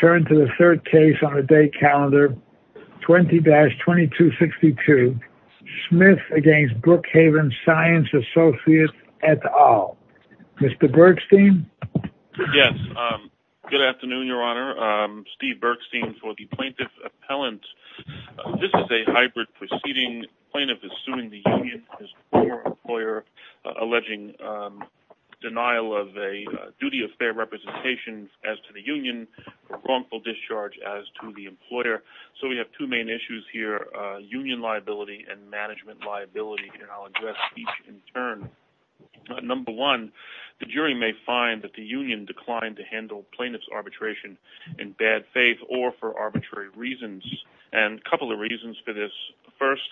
Turn to the third case on a day calendar. 20 dash 2262 Smith against Brookhaven Science Associates at all. Mr. Bergstein. Yes. Um, good afternoon, your honor. Um, Steve Bergstein for the plaintiff appellant. This is a hybrid proceeding. Plaintiff is suing the union. Uh, alleging, um, denial of a duty of fair representation as to the union. A wrongful discharge as to the employer. So we have two main issues here, a union liability and management liability. And I'll address each in turn. Number one, the jury may find that the union declined to handle plaintiff's arbitration in bad faith or for arbitrary reasons. And a couple of reasons for this first,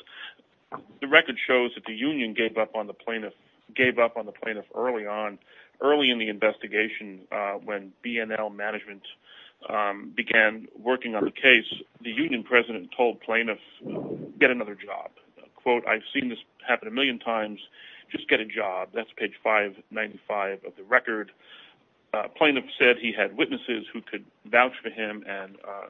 the record shows that the union gave up on the plaintiff gave up on the plaintiff early on, early in the investigation. Uh, when BNL management, um, began working on the case, the union president told plaintiff get another job quote. I've seen this happen a million times. Just get a job. That's page five 95 of the record. Uh, plaintiff said he had witnesses who could vouch for him and, uh,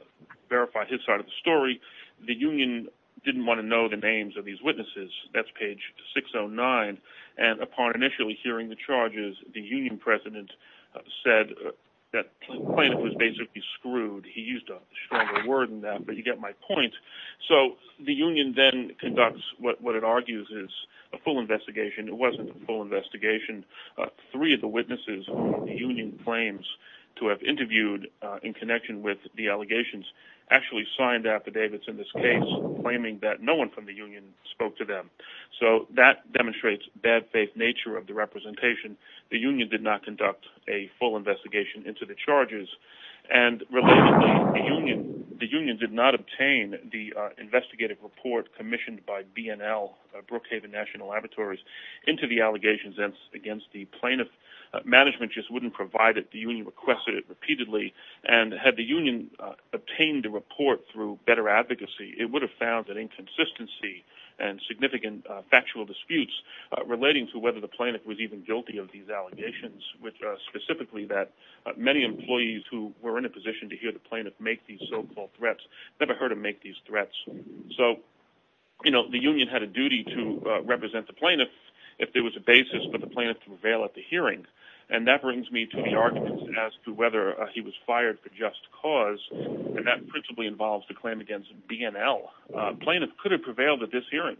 verify his side of the story. The union didn't want to know the names of these witnesses that's page 609. And upon initially hearing the charges, the union president said that the plaintiff was basically screwed. He used a stronger word in that, but you get my point. So the union then conducts what, what it argues is a full investigation. It wasn't a full investigation. Uh, three of the witnesses, the union claims to have interviewed, uh, in connection with the allegations actually signed affidavits in this case, claiming that no one from the union spoke to them. So that demonstrates bad faith nature of the representation. The union did not conduct a full investigation into the charges. And the union, the union did not obtain the investigative report commissioned by BNL, uh, Brookhaven national laboratories into the allegations against the plaintiff. Uh, management just wouldn't provide it. The union requested it repeatedly and had the union, uh, obtained a report through better advocacy. It would have found that inconsistency and significant, uh, factual disputes relating to whether the plaintiff was even guilty of these allegations, which are specifically that many employees who were in a position to hear the plaintiff make these so-called threats, never heard him make these threats. So, you know, the union had a duty to represent the plaintiff if there was a basis for the plaintiff to prevail at the hearing. And that brings me to the arguments as to whether he was fired for just cause. And that principally involves the claim against BNL, uh, plaintiff could have prevailed at this hearing.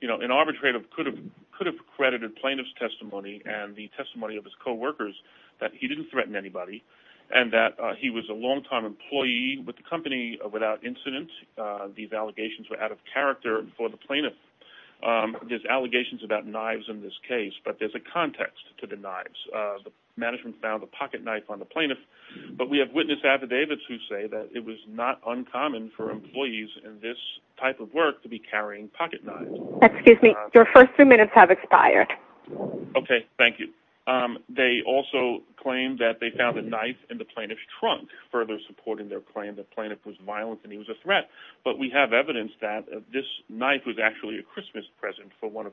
You know, an arbitrator could have, could have credited plaintiff's testimony and the testimony of his coworkers that he didn't threaten anybody and that, uh, he was a long-time employee with the company without incident, uh, these allegations were out of character for the plaintiff. Um, there's allegations about knives in this case, but there's a context to the knives, uh, management found the pocket knife on the plaintiff, but we have witness affidavits who say that it was not uncommon for employees in this type of work to be carrying pocket knives. Excuse me, your first three minutes have expired. Okay. Thank you. Um, they also claimed that they found a knife in the plaintiff's trunk, further supporting their claim that plaintiff was violent and he was a threat, but we have evidence that this knife was actually a Christmas present for one of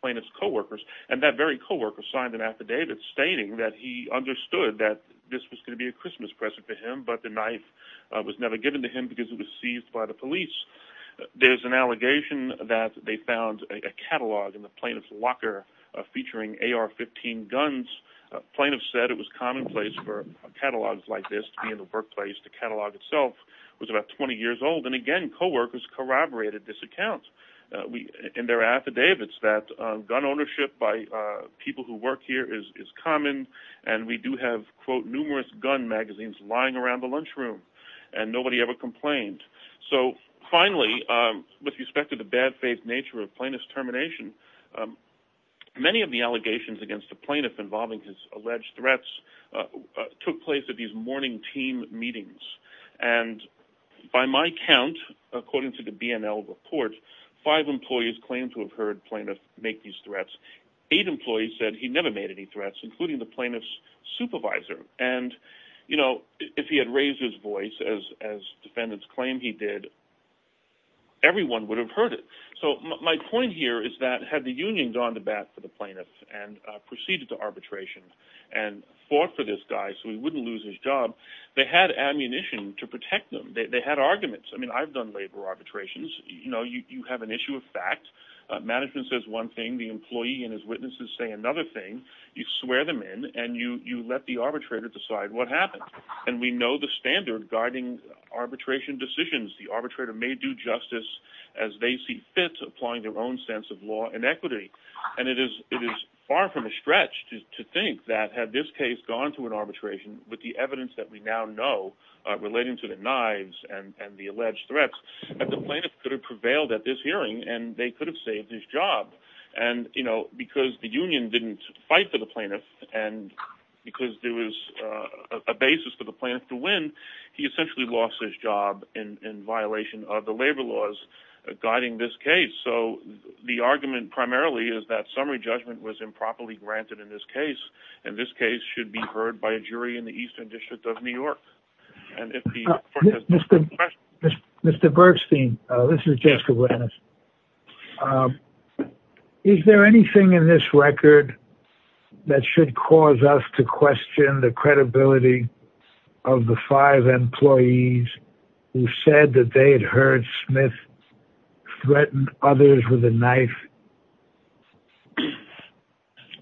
plaintiff's coworkers and that very coworker signed an affidavit stating that he understood that this was going to be a Christmas present for him, but the knife was never given to him because it was seized by the police. There's an allegation that they found a catalog in the plaintiff's locker, uh, featuring AR 15 guns. Uh, plaintiff said it was commonplace for catalogs like this to be in the workplace. The catalog itself was about 20 years old. And again, coworkers corroborated this account. Uh, we, and their affidavits that, uh, gun ownership by, uh, people who work here is, is common and we do have quote, numerous gun magazines lying around the lunchroom and nobody ever complained. So finally, um, with respect to the bad faith nature of plaintiff's termination, um, many of the allegations against the plaintiff involving his alleged threats, uh, took place at these morning team meetings. And by my count, according to the BNL report, five employees claimed to have heard plaintiff make these threats. Eight employees said he never made any threats, including the plaintiff's supervisor. And, you know, if he had raised his voice as, as defendants claim, he did, everyone would have heard it. So my point here is that had the union gone to bat for the plaintiff and, uh, proceeded to arbitration and fought for this guy, so he wouldn't lose his job. They had ammunition to protect them. They had arguments. I mean, I've done labor arbitrations. You know, you, you have an issue of fact, uh, management says one thing, the employee and his witnesses say another thing. You swear them in and you, you let the arbitrator decide what happened. And we know the standard guarding arbitration decisions. The arbitrator may do justice as they see fit to applying their own sense of law and equity. And it is, it is far from a stretch to think that had this case gone through an arbitration with the evidence that we now know, uh, relating to the knives and the alleged threats that the plaintiff could have prevailed at this hearing, and they could have saved his job. And, you know, because the union didn't fight for the plaintiff and because there was a basis for the plan to win, he essentially lost his job in, in violation of the labor laws guiding this case. So the argument primarily is that summary judgment was improperly granted in this case. And this case should be heard by a jury in the Eastern district of New York. And if the Mr. Bergstein, uh, this is Jessica. Um, is there anything in this record that should cause us to question the credibility of the five employees who said that they had heard Smith threatened others with a knife?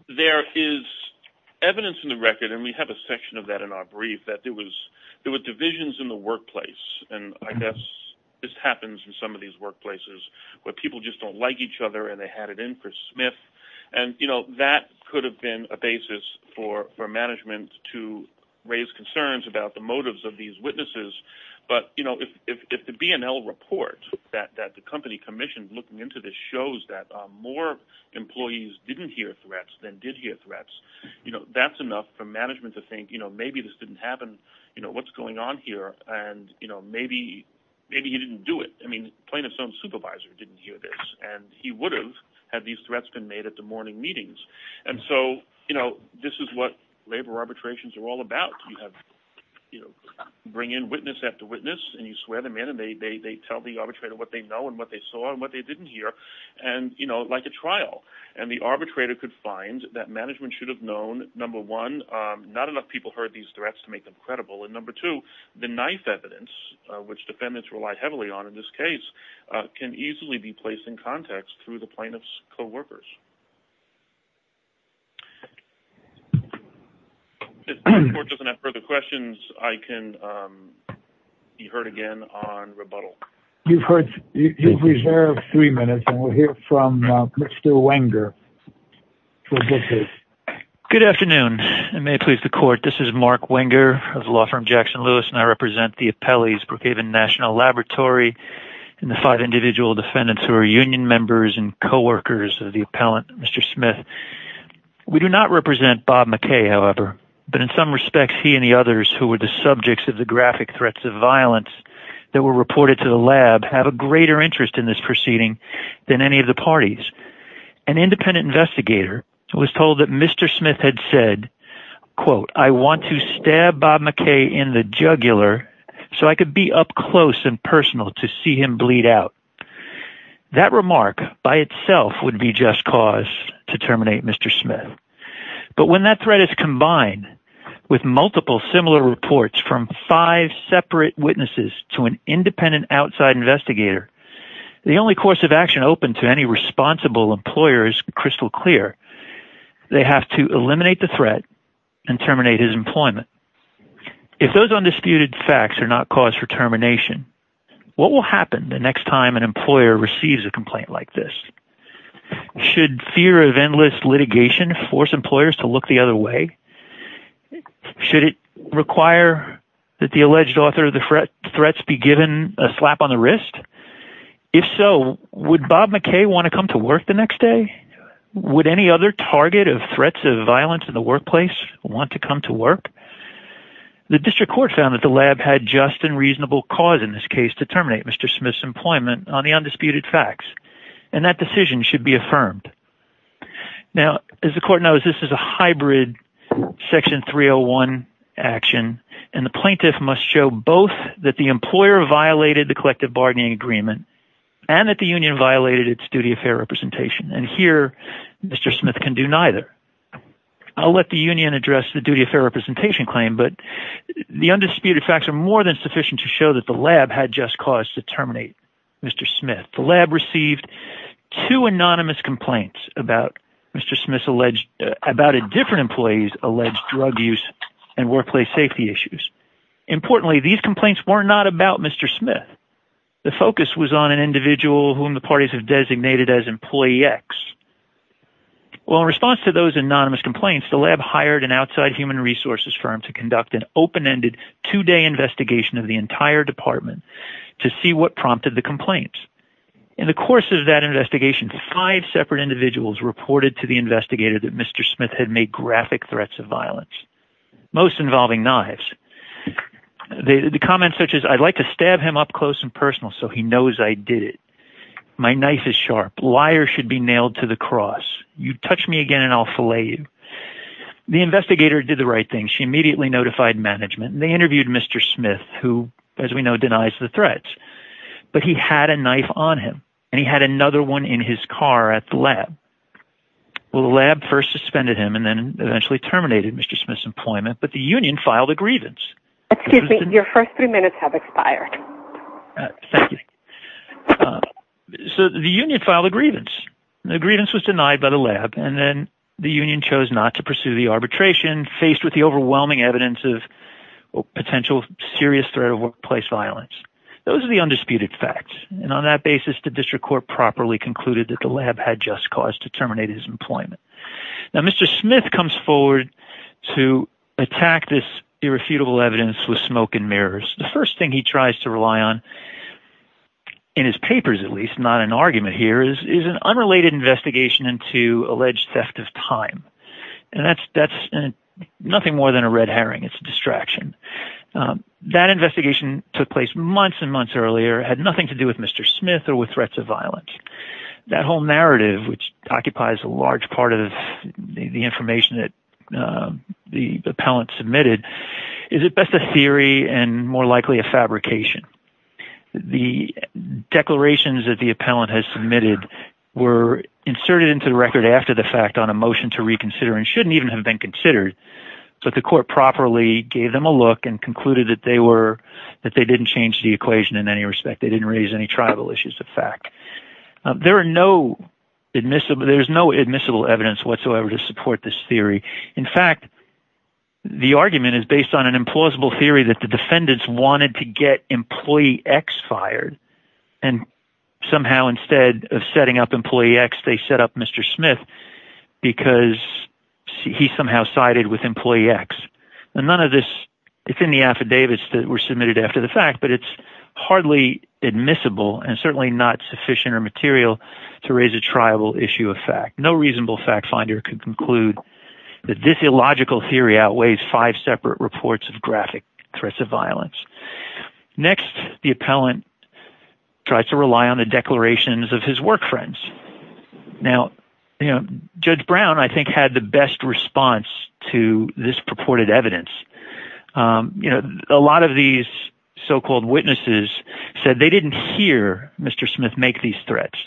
There is evidence in the record, and we have a section of that in our brief that there was, there were divisions in the workplace. And I guess this happens in some of these workplaces where people just don't like each other and they had it in for Smith. And, you know, that could have been a basis for, for management to raise concerns about the motives of these witnesses. But, you know, if, if, if the BNL report that, that the company commissioned looking into this shows that more employees didn't hear threats than did hear threats, you know, that's enough for management to think, you know, maybe this didn't happen, you know, what's going on here. And, you know, maybe, maybe he didn't do it. I mean, plaintiff's own supervisor didn't hear this and he would have had these threats been made at the morning meetings. And so, you know, this is what labor arbitrations are all about. You have, you know, bring in witness after witness and you swear them in and they, they, they tell the arbitrator what they know and what they saw and what they didn't hear. And, you know, like a trial and the arbitrator could find that management should have known number one, um, not enough people heard these threats to make them credible. And number two, the knife evidence, uh, which defendants rely heavily on in this case, uh, can easily be placed in context through the plaintiff's coworkers. If the court doesn't have further questions, I can, um, be heard again on rebuttal. You've heard, you've reserved three minutes and we'll hear from, uh, Mr. Good afternoon and may it please the court. This is Mark winger of law firm, Jackson Lewis, and I represent the appellees, Brookhaven national laboratory and the five individual defendants who are union members and coworkers of the appellant, Mr. Smith. We do not represent Bob McKay, however, but in some respects, he and the others who were the subjects of the graphic threats of violence that were reported to the lab have a greater interest in this proceeding than any of the parties. An independent investigator was told that Mr. Smith had said, quote, I want to stab Bob McKay in the jugular so I could be up close and personal to see him bleed out that remark by itself would be just cause to terminate Mr. Smith. But when that threat is combined with multiple similar reports from five separate witnesses to an independent outside investigator, the only course of action open to any responsible employers, crystal clear. They have to eliminate the threat and terminate his employment. If those undisputed facts are not cause for termination, what will happen the next time an employer receives a complaint like this should fear of endless litigation, force employers to look the other way. Should it require that the alleged author of the threat threats be given a slap on the wrist? If so, would Bob McKay want to come to work the next day? Would any other target of threats of violence in the workplace want to come to work? The district court found that the lab had just and reasonable cause in this case to terminate Mr. Smith's employment on the undisputed facts, and that decision should be affirmed. Now, as the court knows, this is a hybrid section 301 action, and the plaintiff must show both that the employer violated the collective bargaining agreement and that the union violated its duty of fair representation. And here, Mr. Smith can do neither. I'll let the union address the duty of fair representation claim, but the undisputed facts are more than sufficient to show that the lab had just caused to terminate Mr. Smith. The lab received two anonymous complaints about Mr. Smith's alleged about a different employees, alleged drug use and workplace safety issues. Importantly, these complaints were not about Mr. Smith. The focus was on an individual whom the parties have designated as employee X. Well, in response to those anonymous complaints, the lab hired an outside human resources firm to conduct an open-ended two day investigation of the entire department to see what prompted the complaints. In the course of that investigation, five separate individuals reported to the investigator that Mr. Smith had made graphic threats of violence, most involving knives. They, the comments such as I'd like to stab him up close and personal. So he knows I did it. My knife is sharp. Liar should be nailed to the cross. You touch me again and I'll fillet you. The investigator did the right thing. She immediately notified management and they interviewed Mr. Smith, who, as we know, denies the threats, but he had a knife on him and he had another one in his car at the lab. Well, the lab first suspended him and then eventually terminated Mr. Smith's employment, but the union filed a grievance. Excuse me. Your first three minutes have expired. Thank you. So the union filed a grievance. The grievance was denied by the lab. And then the union chose not to pursue the arbitration faced with the overwhelming evidence of potential serious threat of workplace violence. Those are the undisputed facts. And on that basis, the district court properly concluded that the lab had just caused to terminate his employment. Now, Mr. Smith comes forward to attack this irrefutable evidence with smoke and mirrors, the first thing he tries to rely on in his papers, at least not an argument here is an unrelated investigation into alleged theft of time. And that's, that's nothing more than a red herring. It's a distraction. That investigation took place months and months earlier, had nothing to do with Mr. Smith or with threats of violence. That whole narrative, which occupies a large part of the information that, uh, the appellant submitted is at best a theory and more likely a fabrication. The declarations that the appellant has submitted were inserted into the record after the fact on a motion to reconsider and shouldn't even have been considered. So the court properly gave them a look and concluded that they were, that they didn't change the equation in any respect. They didn't raise any tribal issues of fact. There are no admissible. There's no admissible evidence whatsoever to support this theory. In fact, the argument is based on an implausible theory that the defendants wanted to get employee X fired. And somehow instead of setting up employee X, they set up Mr. Smith because he somehow sided with employee X and none of this it's in the affidavits that were submitted after the fact, but it's hardly admissible and certainly not sufficient or material to raise a tribal issue of fact. No reasonable fact finder can conclude that this illogical theory outweighs five separate reports of graphic threats of violence. Next, the appellant tried to rely on the declarations of his work friends. Now, you know, judge Brown, I think had the best response to this purported evidence. Um, you know, a lot of these so-called witnesses said they didn't hear Mr. Smith make these threats.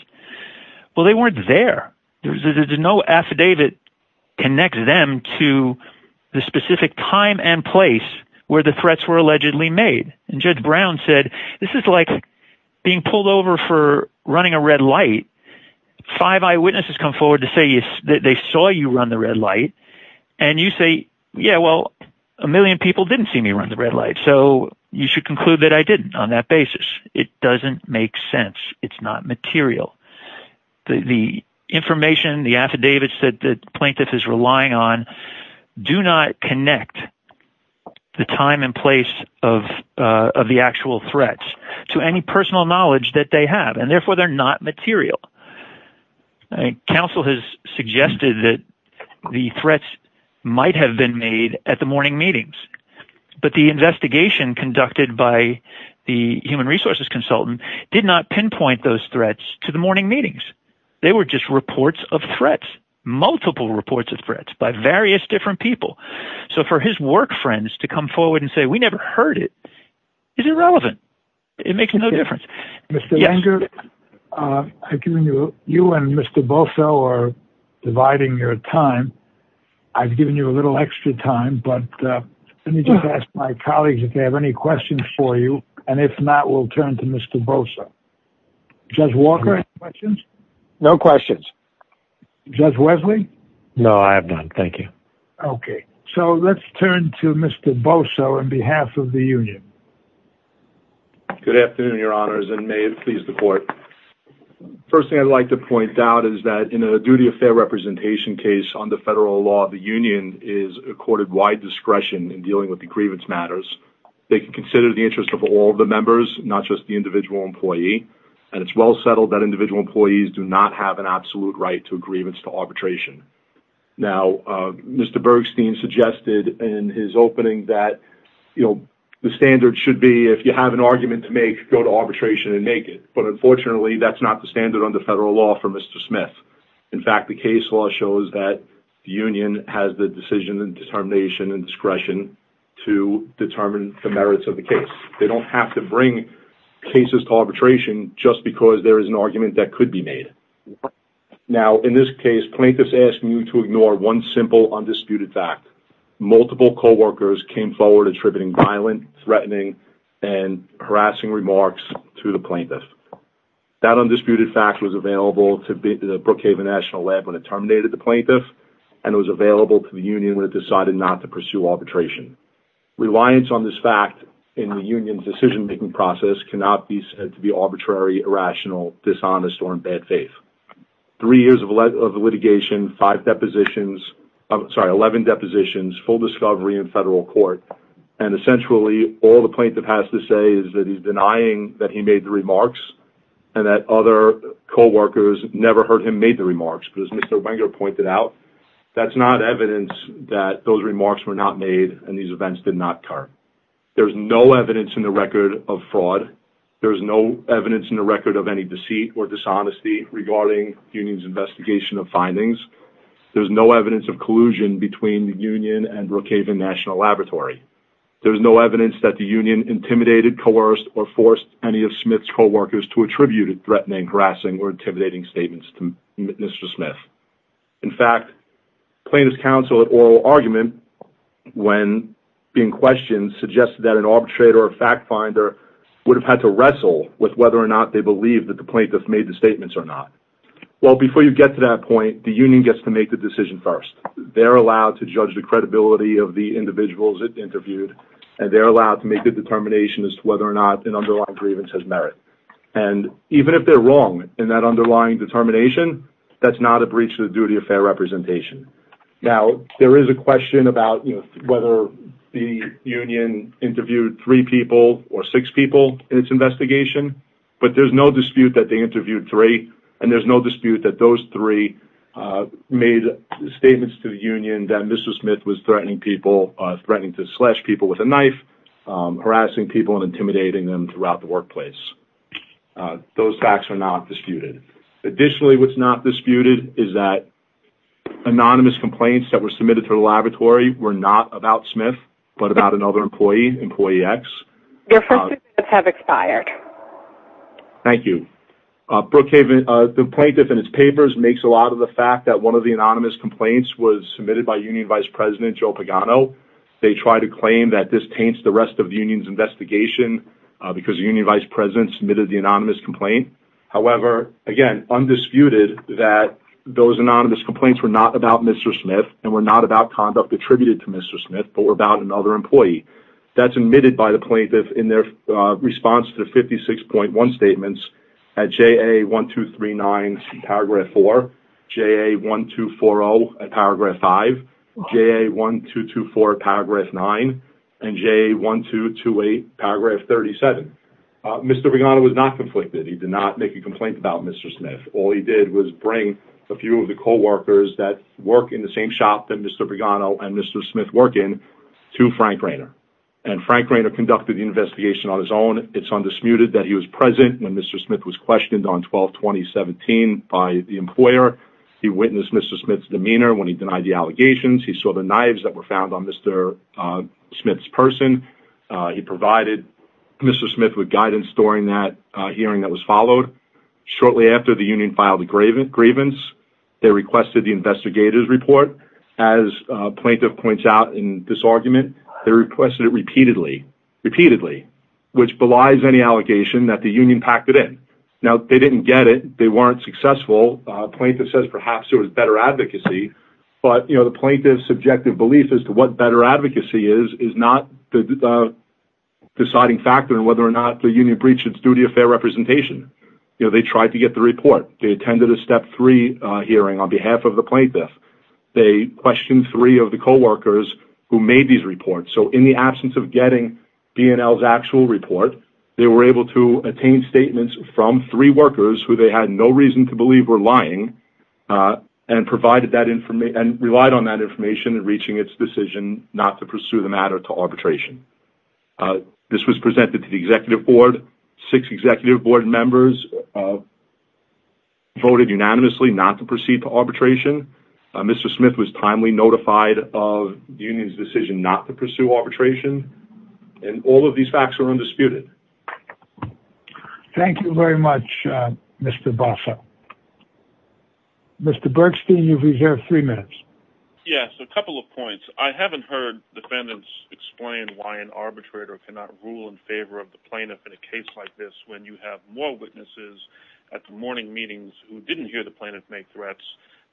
Well, they weren't there. There was no affidavit connected them to the specific time and place where the threats were allegedly made. And judge Brown said, this is like being pulled over for running a red light. Five eyewitnesses come forward to say that they saw you run the red light and you say, yeah, well, a million people didn't see me run the red light. So you should conclude that I didn't on that basis. It doesn't make sense. It's not material. The information, the affidavits that the plaintiff is relying on do not connect the time and place of, uh, of the actual threats to any personal knowledge that they have, and therefore they're not material. I think council has suggested that the threats might have been made at the morning meetings, but the investigation conducted by the human resources consultant did not pinpoint those threats to the morning meetings, they were just reports of threats, multiple reports of threats by various different people. So for his work friends to come forward and say, we never heard it. Is it relevant? It makes no difference. Mr. Langer, uh, you and Mr. Boso are dividing your time. I've given you a little extra time, but, uh, let me just ask my colleagues if they have any questions for you. And if not, we'll turn to Mr. Bosa, judge Walker questions. No questions. Judge Wesley. No, I have done. Thank you. Okay. So let's turn to Mr. Boso on behalf of the union. Good afternoon. Your honors and may it please the court. First thing I'd like to point out is that in a duty of fair representation case on the federal law, the union is accorded wide discretion in dealing with the grievance matters. They can consider the interest of all the members, not just the individual employee, and it's well settled that individual employees do not have an absolute right to agreements to arbitration. Now, uh, Mr. You have an argument to make, go to arbitration and make it, but unfortunately that's not the standard under federal law for Mr. Smith. In fact, the case law shows that the union has the decision and determination and discretion to determine the merits of the case. They don't have to bring cases to arbitration just because there is an argument that could be made. Now, in this case, plaintiffs asking you to ignore one simple undisputed fact, multiple coworkers came forward, attributing violent, threatening, and harassing remarks to the plaintiff. That undisputed fact was available to the Brookhaven National Lab when it terminated the plaintiff and it was available to the union when it decided not to pursue arbitration. Reliance on this fact in the union's decision-making process cannot be said to be arbitrary, irrational, dishonest, or in bad faith. Three years of litigation, five depositions, I'm sorry, 11 depositions, full discovery in federal court, and essentially all the plaintiff has to say is that he's denying that he made the remarks and that other coworkers never heard him made the remarks, but as Mr. Wenger pointed out, that's not evidence that those remarks were not made and these events did not occur. There's no evidence in the record of fraud. There's no evidence in the record of any deceit or dishonesty regarding union's investigation of findings. There's no evidence of collusion between the union and Brookhaven National Laboratory. There's no evidence that the union intimidated, coerced, or forced any of Smith's coworkers to attribute threatening, harassing, or intimidating statements to Mr. Smith. In fact, plaintiff's counsel at oral argument, when being questioned, suggested that an arbitrator or fact finder would have had to wrestle with whether or not they believe that the plaintiff made the statements or not. Well, before you get to that point, the union gets to make the decision first. They're allowed to judge the credibility of the individuals it interviewed, and they're allowed to make the determination as to whether or not an underlying grievance has merit. And even if they're wrong in that underlying determination, that's not a breach of the duty of fair representation. Now, there is a question about whether the union interviewed three people or six people in its investigation, but there's no dispute that they interviewed three, and there's no dispute that those three made statements to the union that Mr. Smith was threatening people, threatening to slash people with a knife, harassing people, and intimidating them throughout the workplace. Those facts are not disputed. Additionally, what's not disputed is that anonymous complaints that were submitted to the laboratory were not about Smith, but about another employee, employee X. Your first two minutes have expired. Thank you. Brookhaven, the plaintiff in its papers, makes a lot of the fact that one of the anonymous complaints was submitted by union vice president Joe Pagano. They try to claim that this taints the rest of the union's investigation because the union vice president submitted the anonymous complaint. However, again, undisputed that those anonymous complaints were not about Mr. Smith and were not about conduct attributed to Mr. Smith, but were about another employee. That's admitted by the plaintiff in their response to the 56.1 statements at JA1239 paragraph four, JA1240 at paragraph five, JA1224 at paragraph nine, and JA1228 paragraph 37. Uh, Mr. Pagano was not conflicted. He did not make a complaint about Mr. Smith. All he did was bring a few of the coworkers that work in the same shop that Mr. Pagano and Mr. Smith work in to Frank Rainer. And Frank Rainer conducted the investigation on his own. It's undisputed that he was present when Mr. Smith was questioned on 12, 2017 by the employer. He witnessed Mr. Smith's demeanor when he denied the allegations. He saw the knives that were found on Mr. Uh, Smith's person. Uh, he provided Mr. Smith with guidance during that hearing that was followed shortly after the union filed a graven, grievance. They requested the investigators report as a plaintiff points out in this lies, any allegation that the union packed it in now they didn't get it. They weren't successful. A plaintiff says perhaps it was better advocacy, but you know, the plaintiff's subjective belief as to what better advocacy is, is not the deciding factor in whether or not the union breaches duty of fair representation. You know, they tried to get the report. They attended a step three hearing on behalf of the plaintiff. They questioned three of the coworkers who made these reports. So in the absence of getting BNLs actual report, they were able to attain statements from three workers who they had no reason to believe were lying. Uh, and provided that information and relied on that information and reaching its decision not to pursue the matter to arbitration. Uh, this was presented to the executive board, six executive board members, uh, voted unanimously not to proceed to arbitration. Mr. Smith was timely notified of union's decision not to pursue arbitration. And all of these facts are undisputed. Thank you very much, Mr. Bosa, Mr. Bergstein, you've reserved three minutes. Yes. A couple of points. I haven't heard defendants explain why an arbitrator cannot rule in favor of the plaintiff in a case like this, when you have more witnesses at the morning meetings who didn't hear the plaintiff make threats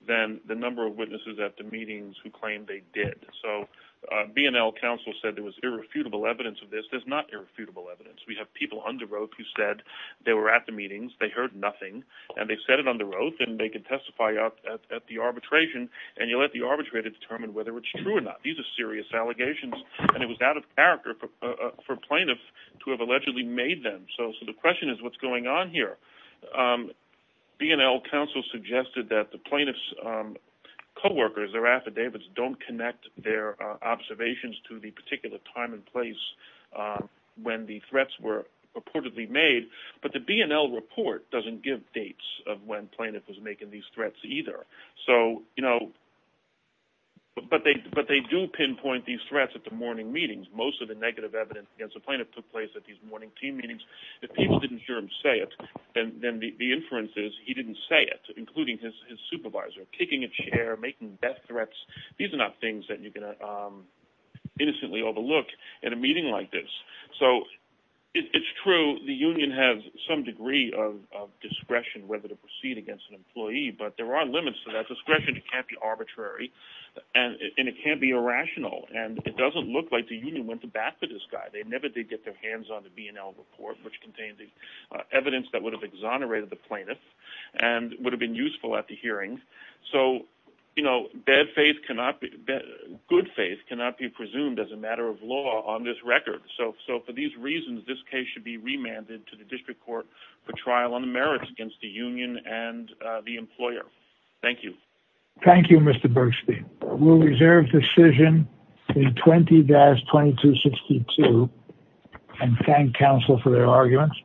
than the number of witnesses at the meetings who claimed they did. So, uh, BNL counsel said there was irrefutable evidence of this. There's not irrefutable evidence. We have people under oath who said they were at the meetings. They heard nothing and they said it on the road and they could testify up at the arbitration and you let the arbitrator determine whether it's true or not. These are serious allegations and it was out of character for plaintiff to have allegedly made them. So, so the question is what's going on here. Um, BNL counsel suggested that the plaintiff's, um, coworkers or affidavits don't connect their observations to the particular time and place, uh, when the threats were reportedly made, but the BNL report doesn't give dates of when plaintiff was making these threats either. So, you know, but they, but they do pinpoint these threats at the morning meetings, most of the negative evidence against the plaintiff took place at these morning team meetings. If people didn't hear him say it, then the inference is he didn't say it, including his supervisor, kicking a chair, making death threats. These are not things that you're going to, um, innocently overlook at a meeting like this. So it's true. The union has some degree of discretion, whether to proceed against an employee, but there are limits to that discretion. It can't be arbitrary and it can't be irrational. And it doesn't look like the union went to bat for this guy. They never did get their hands on the BNL report, which contained the evidence that would have exonerated the plaintiff and would have been useful at the hearing. So, you know, bad faith cannot be good. Faith cannot be presumed as a matter of law on this record. So, so for these reasons, this case should be remanded to the district court for trial on the merits against the union and the employer. Thank you. Thank you, Mr. We'll reserve decision 20 dash 20 to 62 and thank counsel for their arguments.